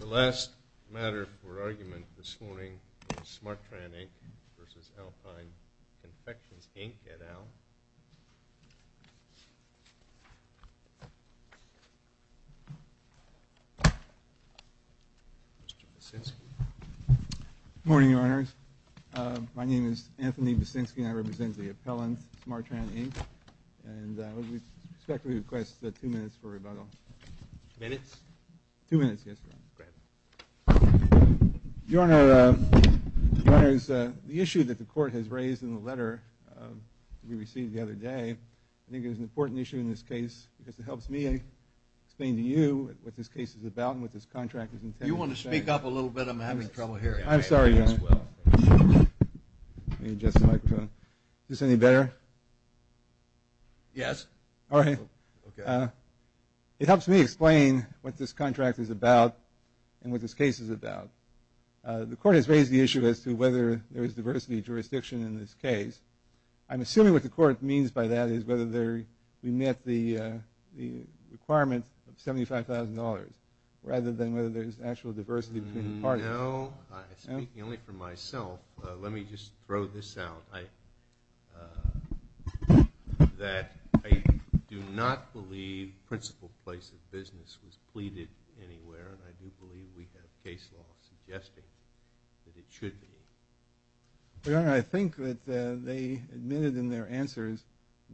The last matter for argument this morning is Smartran, Inc. v. Alpine Confections, Inc. at Al. Mr. Basinski. Good morning, Your Honors. My name is Anthony Basinski, and I represent the appellant, Smartran, Inc., and I would respectfully request two minutes for rebuttal. Minutes? Two minutes, yes, Your Honor. Go ahead. Your Honor, Your Honors, the issue that the court has raised in the letter we received the other day, I think it is an important issue in this case because it helps me explain to you what this case is about and what this contract is intended to say. You want to speak up a little bit? I'm having trouble hearing. I'm sorry, Your Honor. Let me adjust the microphone. Is this any better? Yes. All right. Okay. It helps me explain what this contract is about and what this case is about. The court has raised the issue as to whether there is diversity of jurisdiction in this case. I'm assuming what the court means by that is whether we met the requirement of $75,000 rather than whether there is actual diversity between the parties. No. I'm speaking only for myself. Let me just throw this out. I do not believe principled place of business was pleaded anywhere, and I do believe we have case law suggesting that it should be. Your Honor, I think that they admitted in their answers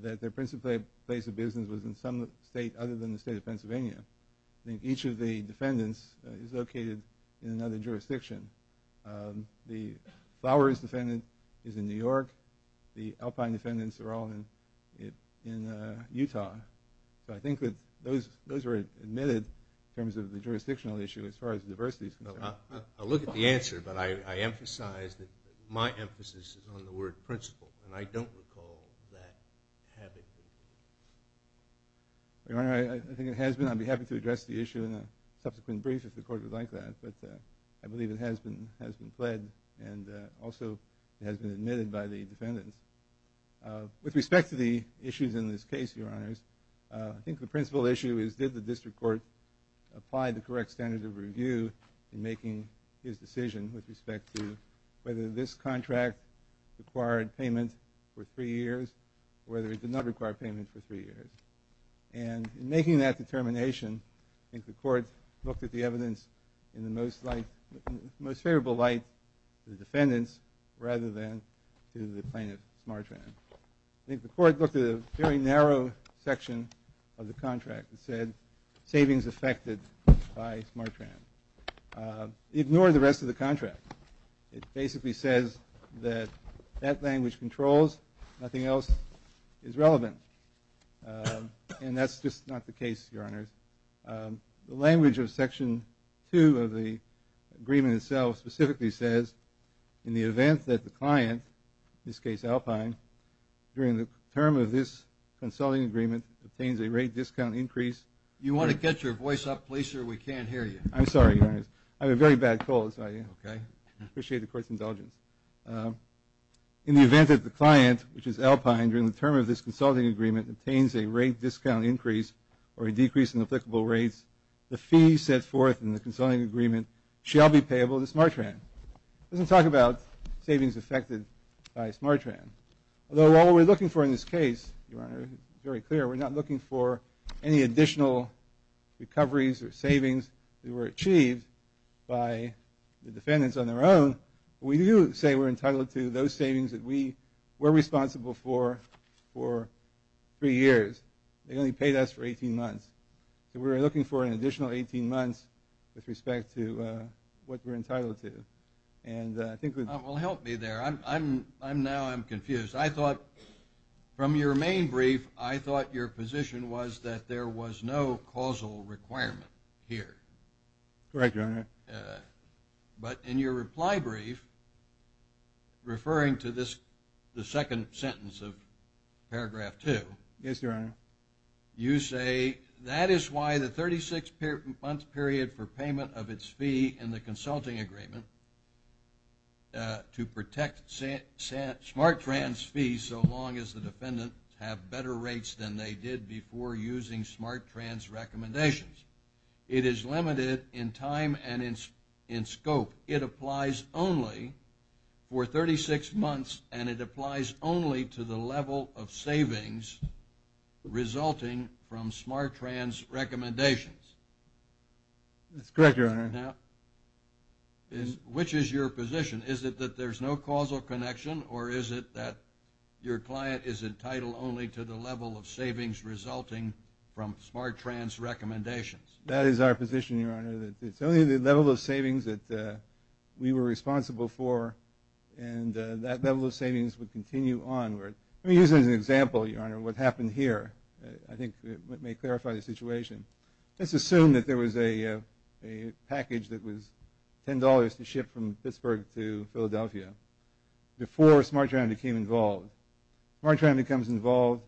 that their principled place of business was in some state other than the state of Pennsylvania. I think each of the defendants is located in another jurisdiction. The Flowers defendant is in New York. The Alpine defendants are all in Utah. So I think that those were admitted in terms of the jurisdictional issue as far as diversity is concerned. I'll look at the answer, but I emphasize that my emphasis is on the word principled, and I don't recall that having been. Your Honor, I think it has been. I'd be happy to address the issue in a subsequent brief if the court would like that, but I believe it has been pled and also has been admitted by the defendants. With respect to the issues in this case, Your Honors, I think the principled issue is did the district court apply the correct standards of review in making his decision with respect to whether this contract required payment for three years or whether it did not require payment for three years. And in making that determination, I think the court looked at the evidence in the most favorable light to the defendants rather than to the plaintiff, Smartran. I think the court looked at a very narrow section of the contract that said savings affected by Smartran. It ignored the rest of the contract. It basically says that that language controls, nothing else is relevant. And that's just not the case, Your Honors. The language of Section 2 of the agreement itself specifically says, in the event that the client, in this case Alpine, during the term of this consulting agreement obtains a rate discount increase. You want to get your voice up, please, sir. We can't hear you. I'm sorry, Your Honors. I have a very bad cold, so I appreciate the court's indulgence. In the event that the client, which is Alpine, during the term of this consulting agreement obtains a rate discount increase or a decrease in applicable rates, the fee set forth in the consulting agreement shall be payable to Smartran. It doesn't talk about savings affected by Smartran. Although what we're looking for in this case, Your Honor, very clear, we're not looking for any additional recoveries or savings that were achieved by the defendants on their own. We do say we're entitled to those savings that we were responsible for for three years. They only paid us for 18 months. So we're looking for an additional 18 months with respect to what we're entitled to. And I think we're… Well, help me there. Now I'm confused. I thought from your main brief, I thought your position was that there was no causal requirement here. Correct, Your Honor. But in your reply brief, referring to the second sentence of paragraph two… Yes, Your Honor. You say, That is why the 36-month period for payment of its fee in the consulting agreement to protect Smartran's fees so long as the defendants have better rates than they did before using Smartran's recommendations. It is limited in time and in scope. It applies only for 36 months, and it applies only to the level of savings resulting from Smartran's recommendations. That's correct, Your Honor. Now, which is your position? Is it that there's no causal connection, or is it that your client is entitled only to the level of savings resulting from Smartran's recommendations? That is our position, Your Honor. It's only the level of savings that we were responsible for, and that level of savings would continue onward. Let me use it as an example, Your Honor, what happened here. I think it may clarify the situation. Let's assume that there was a package that was $10 to ship from Pittsburgh to Philadelphia before Smartran became involved. Smartran becomes involved,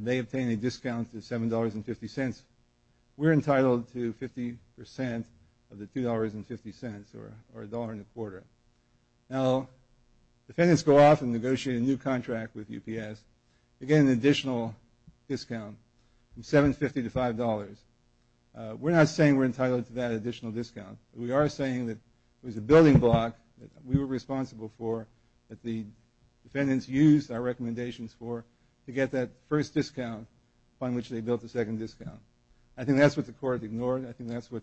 they obtain a discount of $7.50. We're entitled to 50% of the $2.50, or $1.25. Now, defendants go off and negotiate a new contract with UPS to get an additional discount from $7.50 to $5. We're not saying we're entitled to that additional discount. We are saying that there was a building block that we were responsible for that the defendants used our recommendations for to get that first discount upon which they built the second discount. I think that's what the court ignored. I think that's what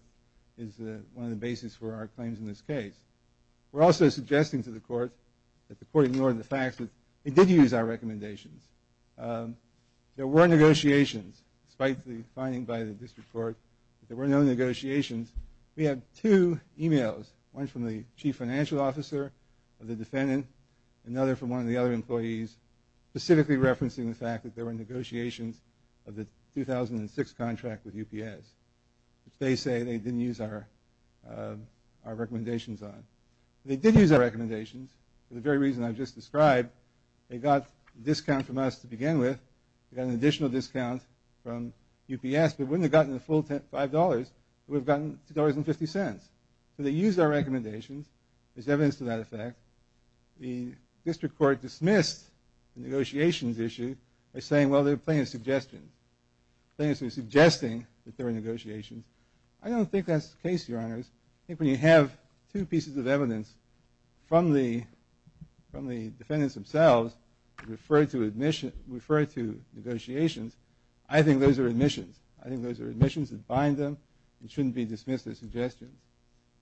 is one of the bases for our claims in this case. We're also suggesting to the court that the court ignore the fact that they did use our recommendations. There were negotiations, despite the finding by the district court, but there were no negotiations. We have two emails, one from the chief financial officer of the defendant, another from one of the other employees, specifically referencing the fact that there were negotiations of the 2006 contract with UPS. They say they didn't use our recommendations on it. They did use our recommendations for the very reason I've just described. They got a discount from us to begin with. They got an additional discount from UPS, but wouldn't have gotten the full $5 if we had gotten $2.50. So they used our recommendations. There's evidence to that effect. The district court dismissed the negotiations issue by saying, well, they're playing a suggestion. They're suggesting that there were negotiations. I don't think that's the case, Your Honors. I think when you have two pieces of evidence from the defendants themselves referred to negotiations, I think those are admissions. I think those are admissions that bind them and shouldn't be dismissed as suggestions.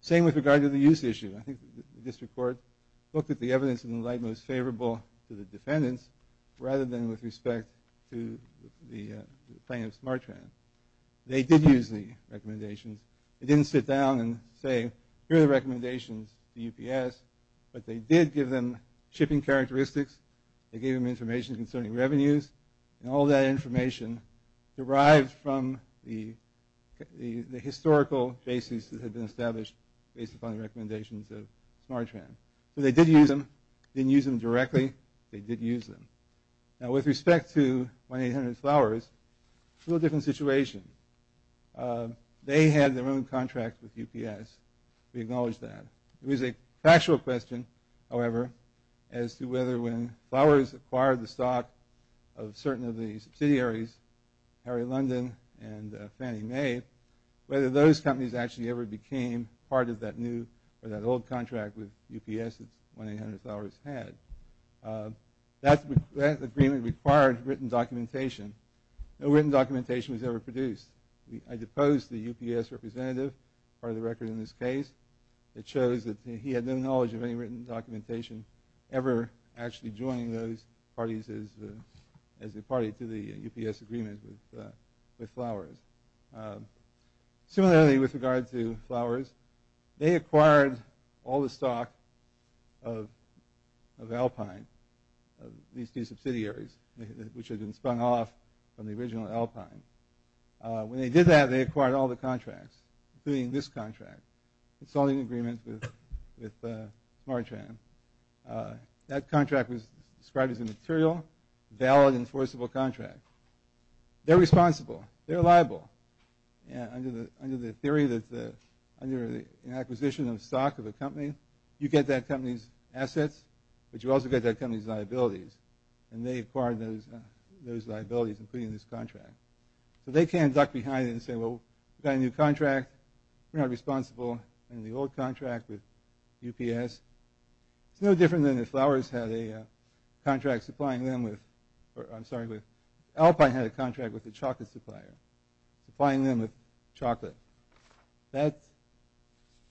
Same with regard to the use issue. I think the district court looked at the evidence in the light most favorable to the defendants rather than with respect to the plaintiff's Smartran. They did use the recommendations. They didn't sit down and say, here are the recommendations to UPS, but they did give them shipping characteristics. They gave them information concerning revenues, and all that information derived from the historical cases that had been established based upon the recommendations of Smartran. So they did use them, didn't use them directly. They did use them. Now, with respect to 1-800-Flowers, it's a little different situation. They had their own contract with UPS. We acknowledge that. It was a factual question, however, as to whether when Flowers acquired the stock of certain of the subsidiaries, Harry London and Fannie Mae, whether those companies actually ever became part of that new or that old contract with UPS that 1-800-Flowers had. That agreement required written documentation. No written documentation was ever produced. I deposed the UPS representative, part of the record in this case. It shows that he had no knowledge of any written documentation ever actually joining those parties as a party to the UPS agreement with Flowers. Similarly, with regard to Flowers, they acquired all the stock of Alpine, of these two subsidiaries, which had been spun off from the original Alpine. When they did that, they acquired all the contracts, including this contract, the consulting agreement with Smartran. That contract was described as a material, valid, enforceable contract. They're responsible. They're liable. Under the theory that under the acquisition of stock of a company, you get that company's assets, but you also get that company's liabilities, and they acquired those liabilities, including this contract. So they can't duck behind and say, well, we've got a new contract. We're not responsible in the old contract with UPS. It's no different than if Flowers had a contract supplying them with – Alpine had a contract with a chocolate supplier, supplying them with chocolate. That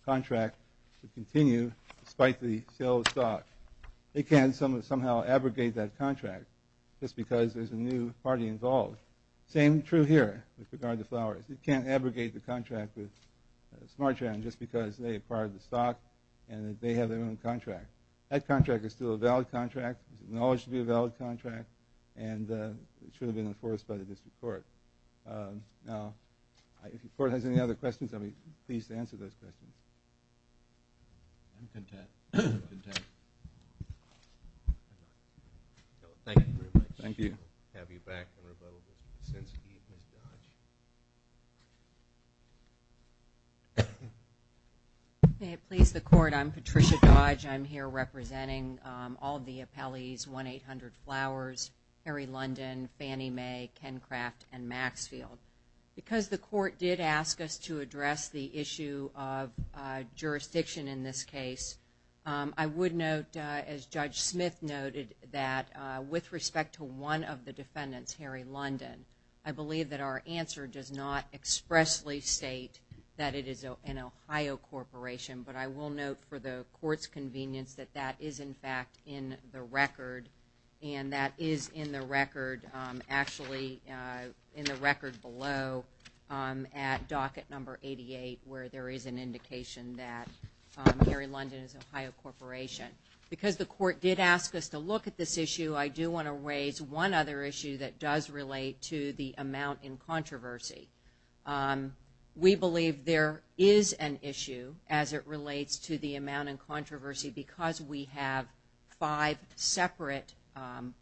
contract should continue despite the sale of stock. They can somehow abrogate that contract just because there's a new party involved. Same true here with regard to Flowers. It can't abrogate the contract with Smartran just because they acquired the stock and they have their own contract. That contract is still a valid contract. It's acknowledged to be a valid contract, and it should have been enforced by the district court. Now, if the court has any other questions, I'll be pleased to answer those questions. I'm content. Thank you very much. Thank you. We'll have you back in a little bit. Since he has Dodge. May it please the court, I'm Patricia Dodge. I'm here representing all of the appellees, 1-800 Flowers, Harry London, Fannie Mae, Ken Craft, and Maxfield. Because the court did ask us to address the issue of jurisdiction in this case, I would note, as Judge Smith noted, that with respect to one of the defendants, Harry London, I believe that our answer does not expressly state that it is an Ohio corporation, but I will note for the court's convenience that that is, in fact, in the record, and that is in the record actually in the record below at docket number 88 where there is an indication that Harry London is an Ohio corporation. Because the court did ask us to look at this issue, I do want to raise one other issue that does relate to the amount in controversy. We believe there is an issue as it relates to the amount in controversy because we have five separate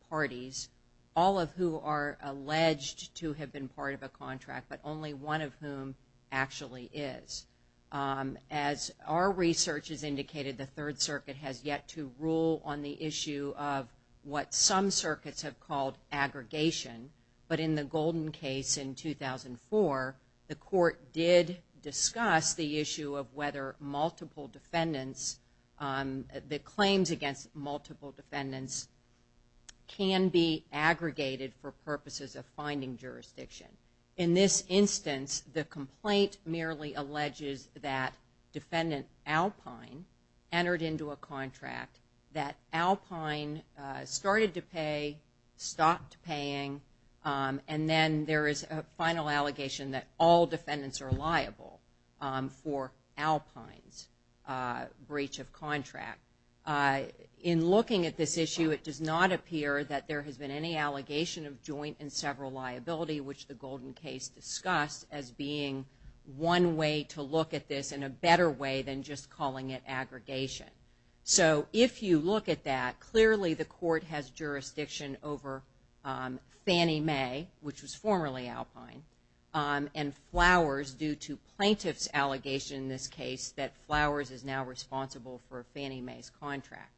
parties, all of who are alleged to have been part of a contract, but only one of whom actually is. As our research has indicated, the Third Circuit has yet to rule on the issue of what some circuits have called aggregation, but in the Golden case in 2004, the court did discuss the issue of whether multiple defendants, the claims against multiple defendants can be aggregated for purposes of finding jurisdiction. In this instance, the complaint merely alleges that defendant Alpine entered into a contract, that Alpine started to pay, stopped paying, and then there is a final allegation that all defendants are liable for Alpine's breach of contract. In looking at this issue, it does not appear that there has been any allegation of joint and several liability, which the Golden case discussed as being one way to look at this and a better way than just calling it aggregation. So if you look at that, clearly the court has jurisdiction over Fannie Mae, which was formerly Alpine, and Flowers due to plaintiff's allegation in this case that Flowers is now responsible for Fannie Mae's contract.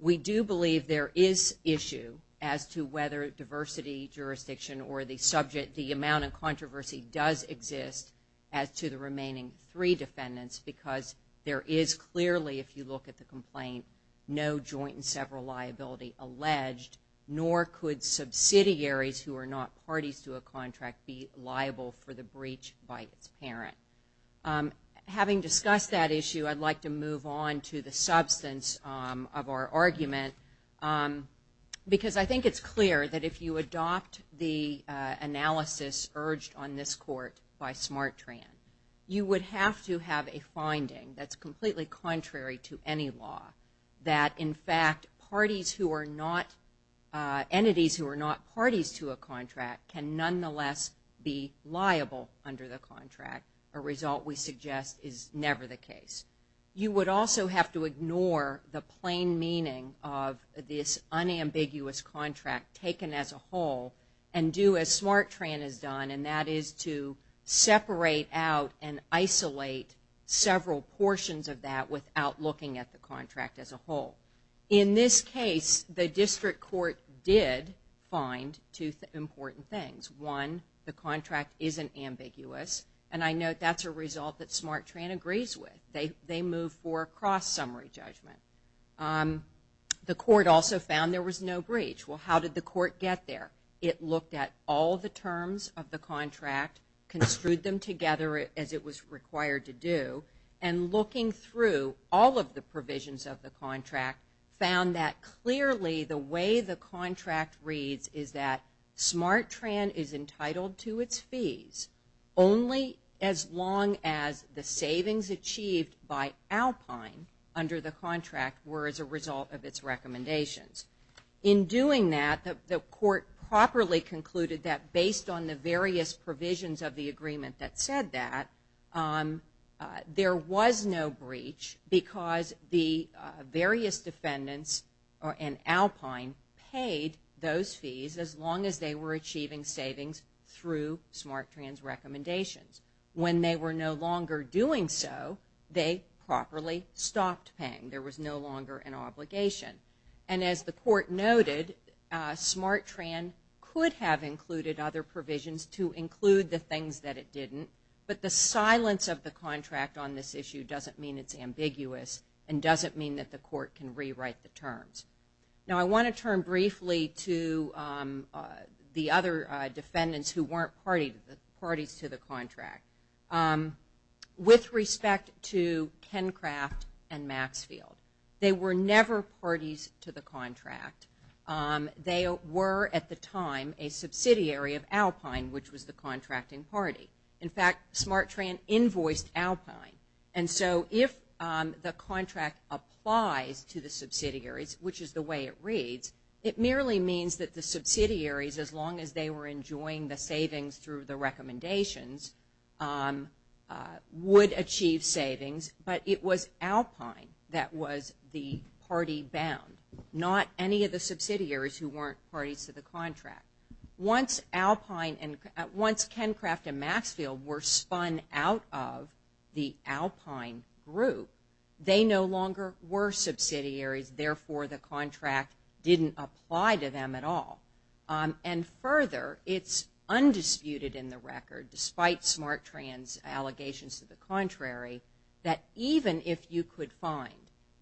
We do believe there is issue as to whether diversity jurisdiction or the subject, the amount of controversy does exist as to the remaining three defendants because there is clearly, if you look at the complaint, no joint and several liability alleged, nor could subsidiaries who are not parties to a contract be liable for the breach by its parent. Having discussed that issue, I'd like to move on to the substance of our argument because I think it's clear that if you adopt the analysis urged on this court by SmartTran, you would have to have a finding that's completely contrary to any law, that in fact parties who are not, entities who are not parties to a contract can nonetheless be liable under the contract. A result we suggest is never the case. You would also have to ignore the plain meaning of this unambiguous contract taken as a whole and do as SmartTran has done, and that is to separate out and isolate several portions of that without looking at the contract as a whole. In this case, the district court did find two important things. One, the contract isn't ambiguous, and I note that's a result that SmartTran agrees with. They move for a cross-summary judgment. The court also found there was no breach. Well, how did the court get there? It looked at all the terms of the contract, construed them together as it was required to do, and looking through all of the provisions of the contract found that clearly the way the contract reads is that SmartTran is entitled to its fees only as long as the savings achieved by Alpine under the contract were as a result of its recommendations. In doing that, the court properly concluded that based on the various provisions of the agreement that said that, there was no breach because the various defendants and Alpine paid those fees as long as they were achieving savings through SmartTran's recommendations. When they were no longer doing so, they properly stopped paying. There was no longer an obligation. And as the court noted, SmartTran could have included other provisions to include the things that it didn't, but the silence of the contract on this issue doesn't mean it's ambiguous and doesn't mean that the court can rewrite the terms. Now, I want to turn briefly to the other defendants who weren't parties to the contract. With respect to Kencraft and Maxfield, they were never parties to the contract. They were at the time a subsidiary of Alpine, which was the contracting party. In fact, SmartTran invoiced Alpine. And so if the contract applies to the subsidiaries, which is the way it reads, it merely means that the subsidiaries, as long as they were enjoying the savings through the recommendations, would achieve savings, but it was Alpine that was the party bound, not any of the subsidiaries who weren't parties to the contract. Once Alpine and once Kencraft and Maxfield were spun out of the Alpine group, they no longer were subsidiaries, therefore the contract didn't apply to them at all. And further, it's undisputed in the record, despite SmartTran's allegations to the contrary, that even if you could find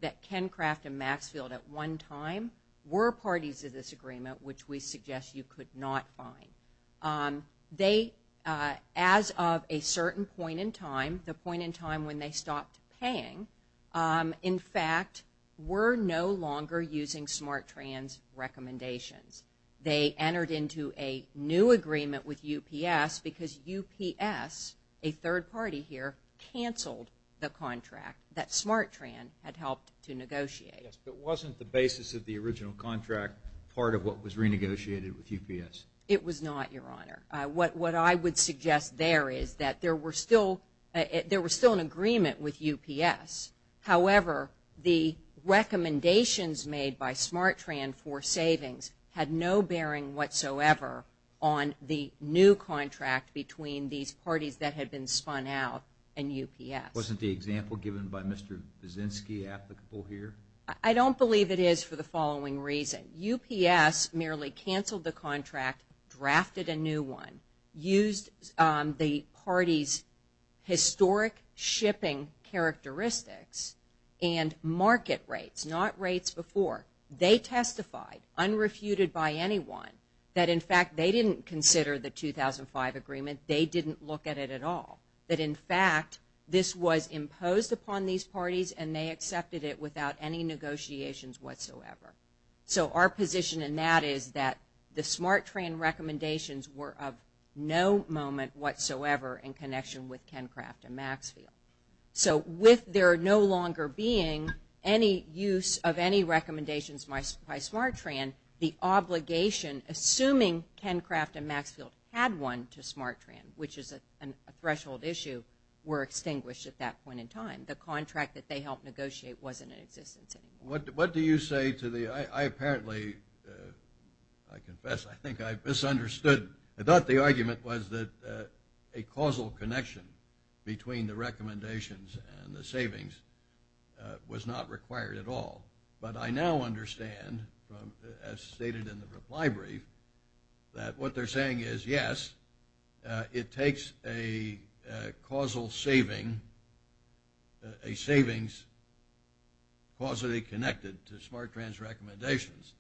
that Kencraft and Maxfield at one time were parties to this agreement, which we suggest you could not find, they, as of a certain point in time, the point in time when they stopped paying, in fact, were no longer using SmartTran's recommendations. They entered into a new agreement with UPS because UPS, a third party here, canceled the contract that SmartTran had helped to negotiate. Yes, but wasn't the basis of the original contract part of what was renegotiated with UPS? It was not, Your Honor. What I would suggest there is that there were still an agreement with UPS. However, the recommendations made by SmartTran for savings had no bearing whatsoever on the new contract between these parties that had been spun out and UPS. Wasn't the example given by Mr. Vizinski applicable here? I don't believe it is for the following reason. UPS merely canceled the contract, drafted a new one, used the parties' historic shipping characteristics and market rates, not rates before. They testified, unrefuted by anyone, that in fact they didn't consider the 2005 agreement, they didn't look at it at all, that in fact this was imposed upon these parties and they accepted it without any negotiations whatsoever. So our position in that is that the SmartTran recommendations were of no moment whatsoever in connection with Kencraft and Maxfield. So with there no longer being any use of any recommendations by SmartTran, the obligation, assuming Kencraft and Maxfield had one to SmartTran, which is a threshold issue, were extinguished at that point in time. The contract that they helped negotiate wasn't in existence anymore. What do you say to the, I apparently, I confess, I think I misunderstood. I thought the argument was that a causal connection between the recommendations and the savings was not required at all. But I now understand, as stated in the reply brief, that what they're saying is yes, it takes a causal saving, a savings causally connected to SmartTran's recommendations.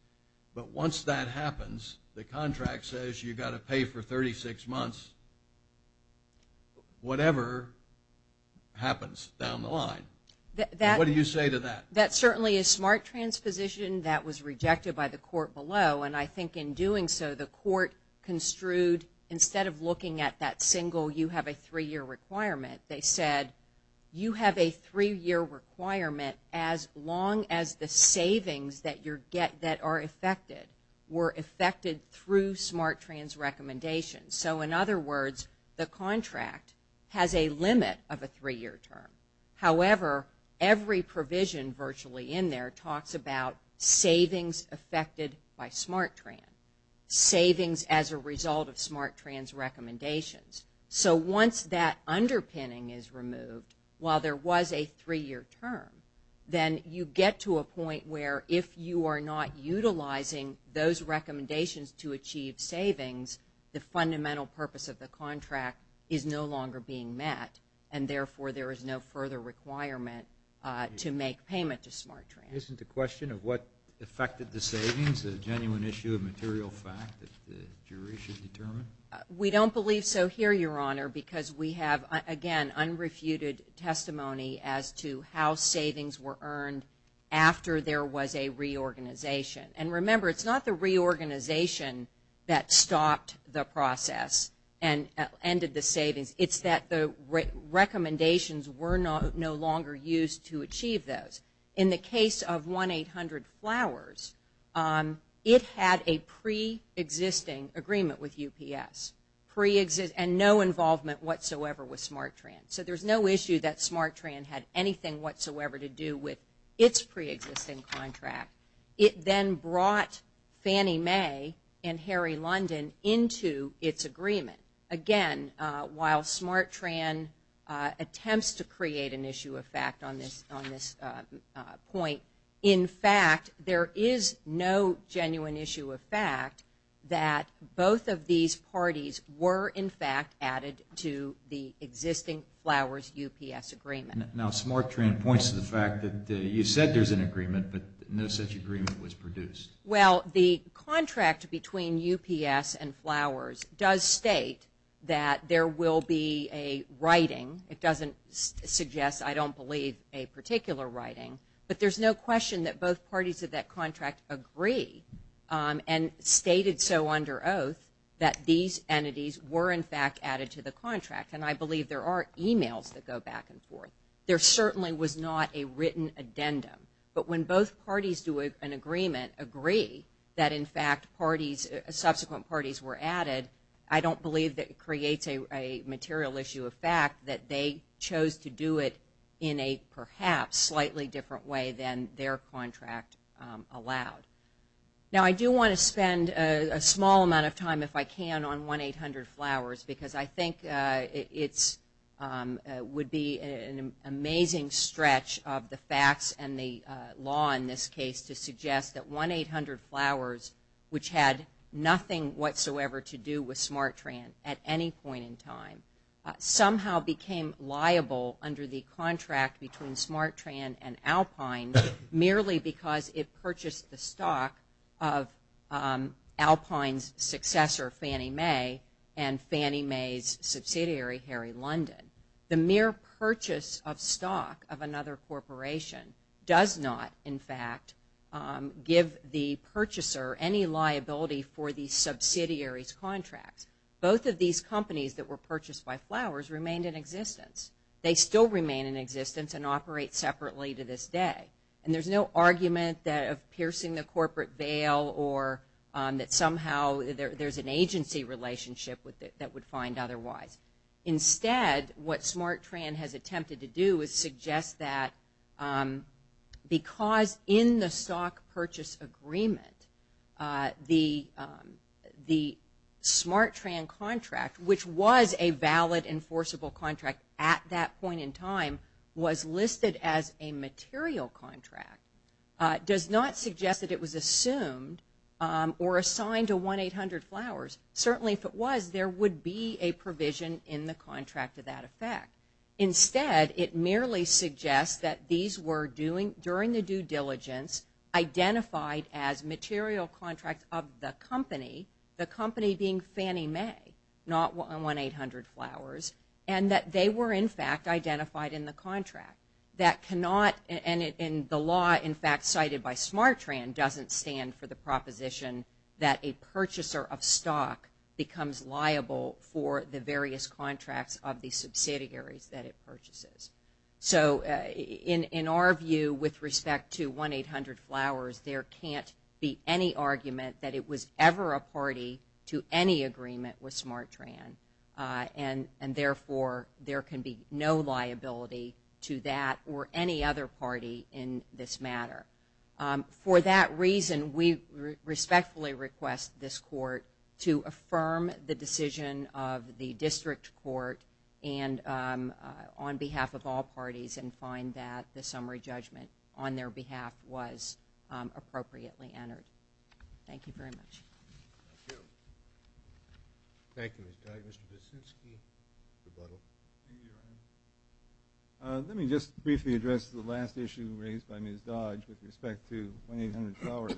But once that happens, the contract says you've got to pay for 36 months, whatever happens down the line. What do you say to that? That certainly is SmartTran's position. That was rejected by the court below. And I think in doing so, the court construed instead of looking at that single you have a three-year requirement, they said you have a three-year requirement as long as the savings that are affected were affected through SmartTran's recommendations. So in other words, the contract has a limit of a three-year term. However, every provision virtually in there talks about savings affected by SmartTran, savings as a result of SmartTran's recommendations. So once that underpinning is removed, while there was a three-year term, then you get to a point where if you are not utilizing those recommendations to achieve savings, the fundamental purpose of the contract is no longer being met and therefore there is no further requirement to make payment to SmartTran. Isn't the question of what affected the savings a genuine issue of material fact that the jury should determine? We don't believe so here, Your Honor, because we have, again, unrefuted testimony as to how savings were earned after there was a reorganization. And remember, it's not the reorganization that stopped the process and ended the savings. It's that the recommendations were no longer used to achieve those. In the case of 1-800-Flowers, it had a preexisting agreement with UPS and no involvement whatsoever with SmartTran. So there's no issue that SmartTran had anything whatsoever to do with its preexisting contract. It then brought Fannie Mae and Harry London into its agreement. Again, while SmartTran attempts to create an issue of fact on this point, in fact there is no genuine issue of fact that both of these parties were, in fact, added to the existing Flowers-UPS agreement. Now, SmartTran points to the fact that you said there's an agreement, but no such agreement was produced. Well, the contract between UPS and Flowers does state that there will be a writing. It doesn't suggest, I don't believe, a particular writing. But there's no question that both parties of that contract agree and stated so under oath that these entities were, in fact, added to the contract. And I believe there are emails that go back and forth. There certainly was not a written addendum. But when both parties do an agreement, agree that, in fact, subsequent parties were added, I don't believe that it creates a material issue of fact that they chose to do it in a perhaps slightly different way than their contract allowed. Now, I do want to spend a small amount of time, if I can, on 1-800-Flowers because I think it would be an amazing stretch of the facts and the law in this case to suggest that 1-800-Flowers, which had nothing whatsoever to do with SmartTran at any point in time, somehow became liable under the contract between SmartTran and Alpine merely because it purchased the stock of Alpine's successor, Fannie Mae, and Fannie Mae's subsidiary, Harry London. The mere purchase of stock of another corporation does not, in fact, give the purchaser any liability for the subsidiary's contracts. Both of these companies that were purchased by Flowers remained in existence. They still remain in existence and operate separately to this day. And there's no argument of piercing the corporate veil or that somehow there's an agency relationship that would find otherwise. Instead, what SmartTran has attempted to do is suggest that because in the stock purchase agreement, the SmartTran contract, which was a valid enforceable contract at that point in time, was listed as a material contract, does not suggest that it was assumed or assigned to 1-800-Flowers. Certainly if it was, there would be a provision in the contract of that effect. Instead, it merely suggests that these were, during the due diligence, identified as material contracts of the company, the company being Fannie Mae, not 1-800-Flowers, and that they were, in fact, identified in the contract. That cannot, and the law, in fact, cited by SmartTran doesn't stand for the proposition that a purchaser of stock becomes liable for the various contracts of the subsidiaries that it purchases. So in our view, with respect to 1-800-Flowers, there can't be any argument that it was ever a party to any agreement with SmartTran, and therefore there can be no liability to that or any other party in this matter. For that reason, we respectfully request this court to affirm the decision of the district court and on behalf of all parties and find that the summary judgment on their behalf was appropriately entered. Thank you very much. Thank you. Thank you, Ms. Dodge. Mr. Buczynski, rebuttal. Thank you, Your Honor. Let me just briefly address the last issue raised by Ms. Dodge with respect to 1-800-Flowers.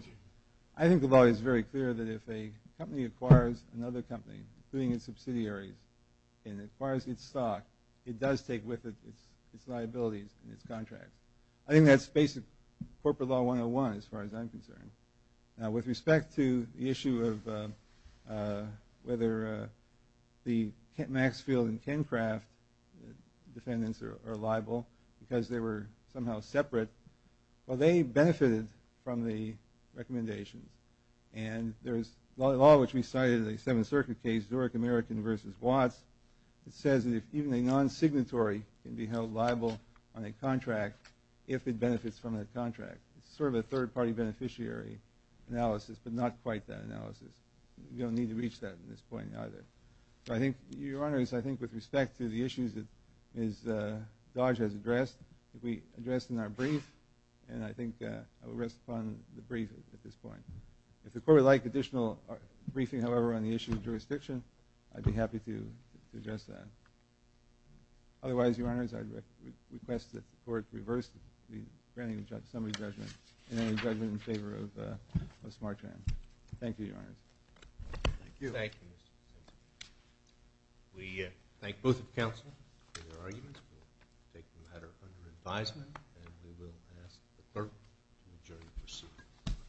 I think the law is very clear that if a company acquires another company, including its subsidiaries, and acquires its stock, it does take with it its liabilities and its contracts. I think that's basic corporate law 101 as far as I'm concerned. With respect to the issue of whether the Maxfield and Kencraft defendants are liable, because they were somehow separate, well, they benefited from the recommendations. And there's a law which we cited in the Seventh Circuit case, Zurich American v. Watts, that says that even a non-signatory can be held liable on a contract if it benefits from the contract. It's sort of a third-party beneficiary analysis, but not quite that analysis. We don't need to reach that at this point either. Your Honor, I think with respect to the issues that Ms. Dodge has addressed, we addressed in our brief, and I think I will rest upon the brief at this point. If the Court would like additional briefing, however, on the issue of jurisdiction, I'd be happy to address that. Otherwise, Your Honors, I request that the Court reverse the granting of summary judgment in any judgment in favor of a smart charge. Thank you, Your Honors. Thank you. Thank you, Mr. Sensenbrenner. We thank both of the counsel for their arguments. We'll take the matter under advisement, and we will pass the third majority proceeding.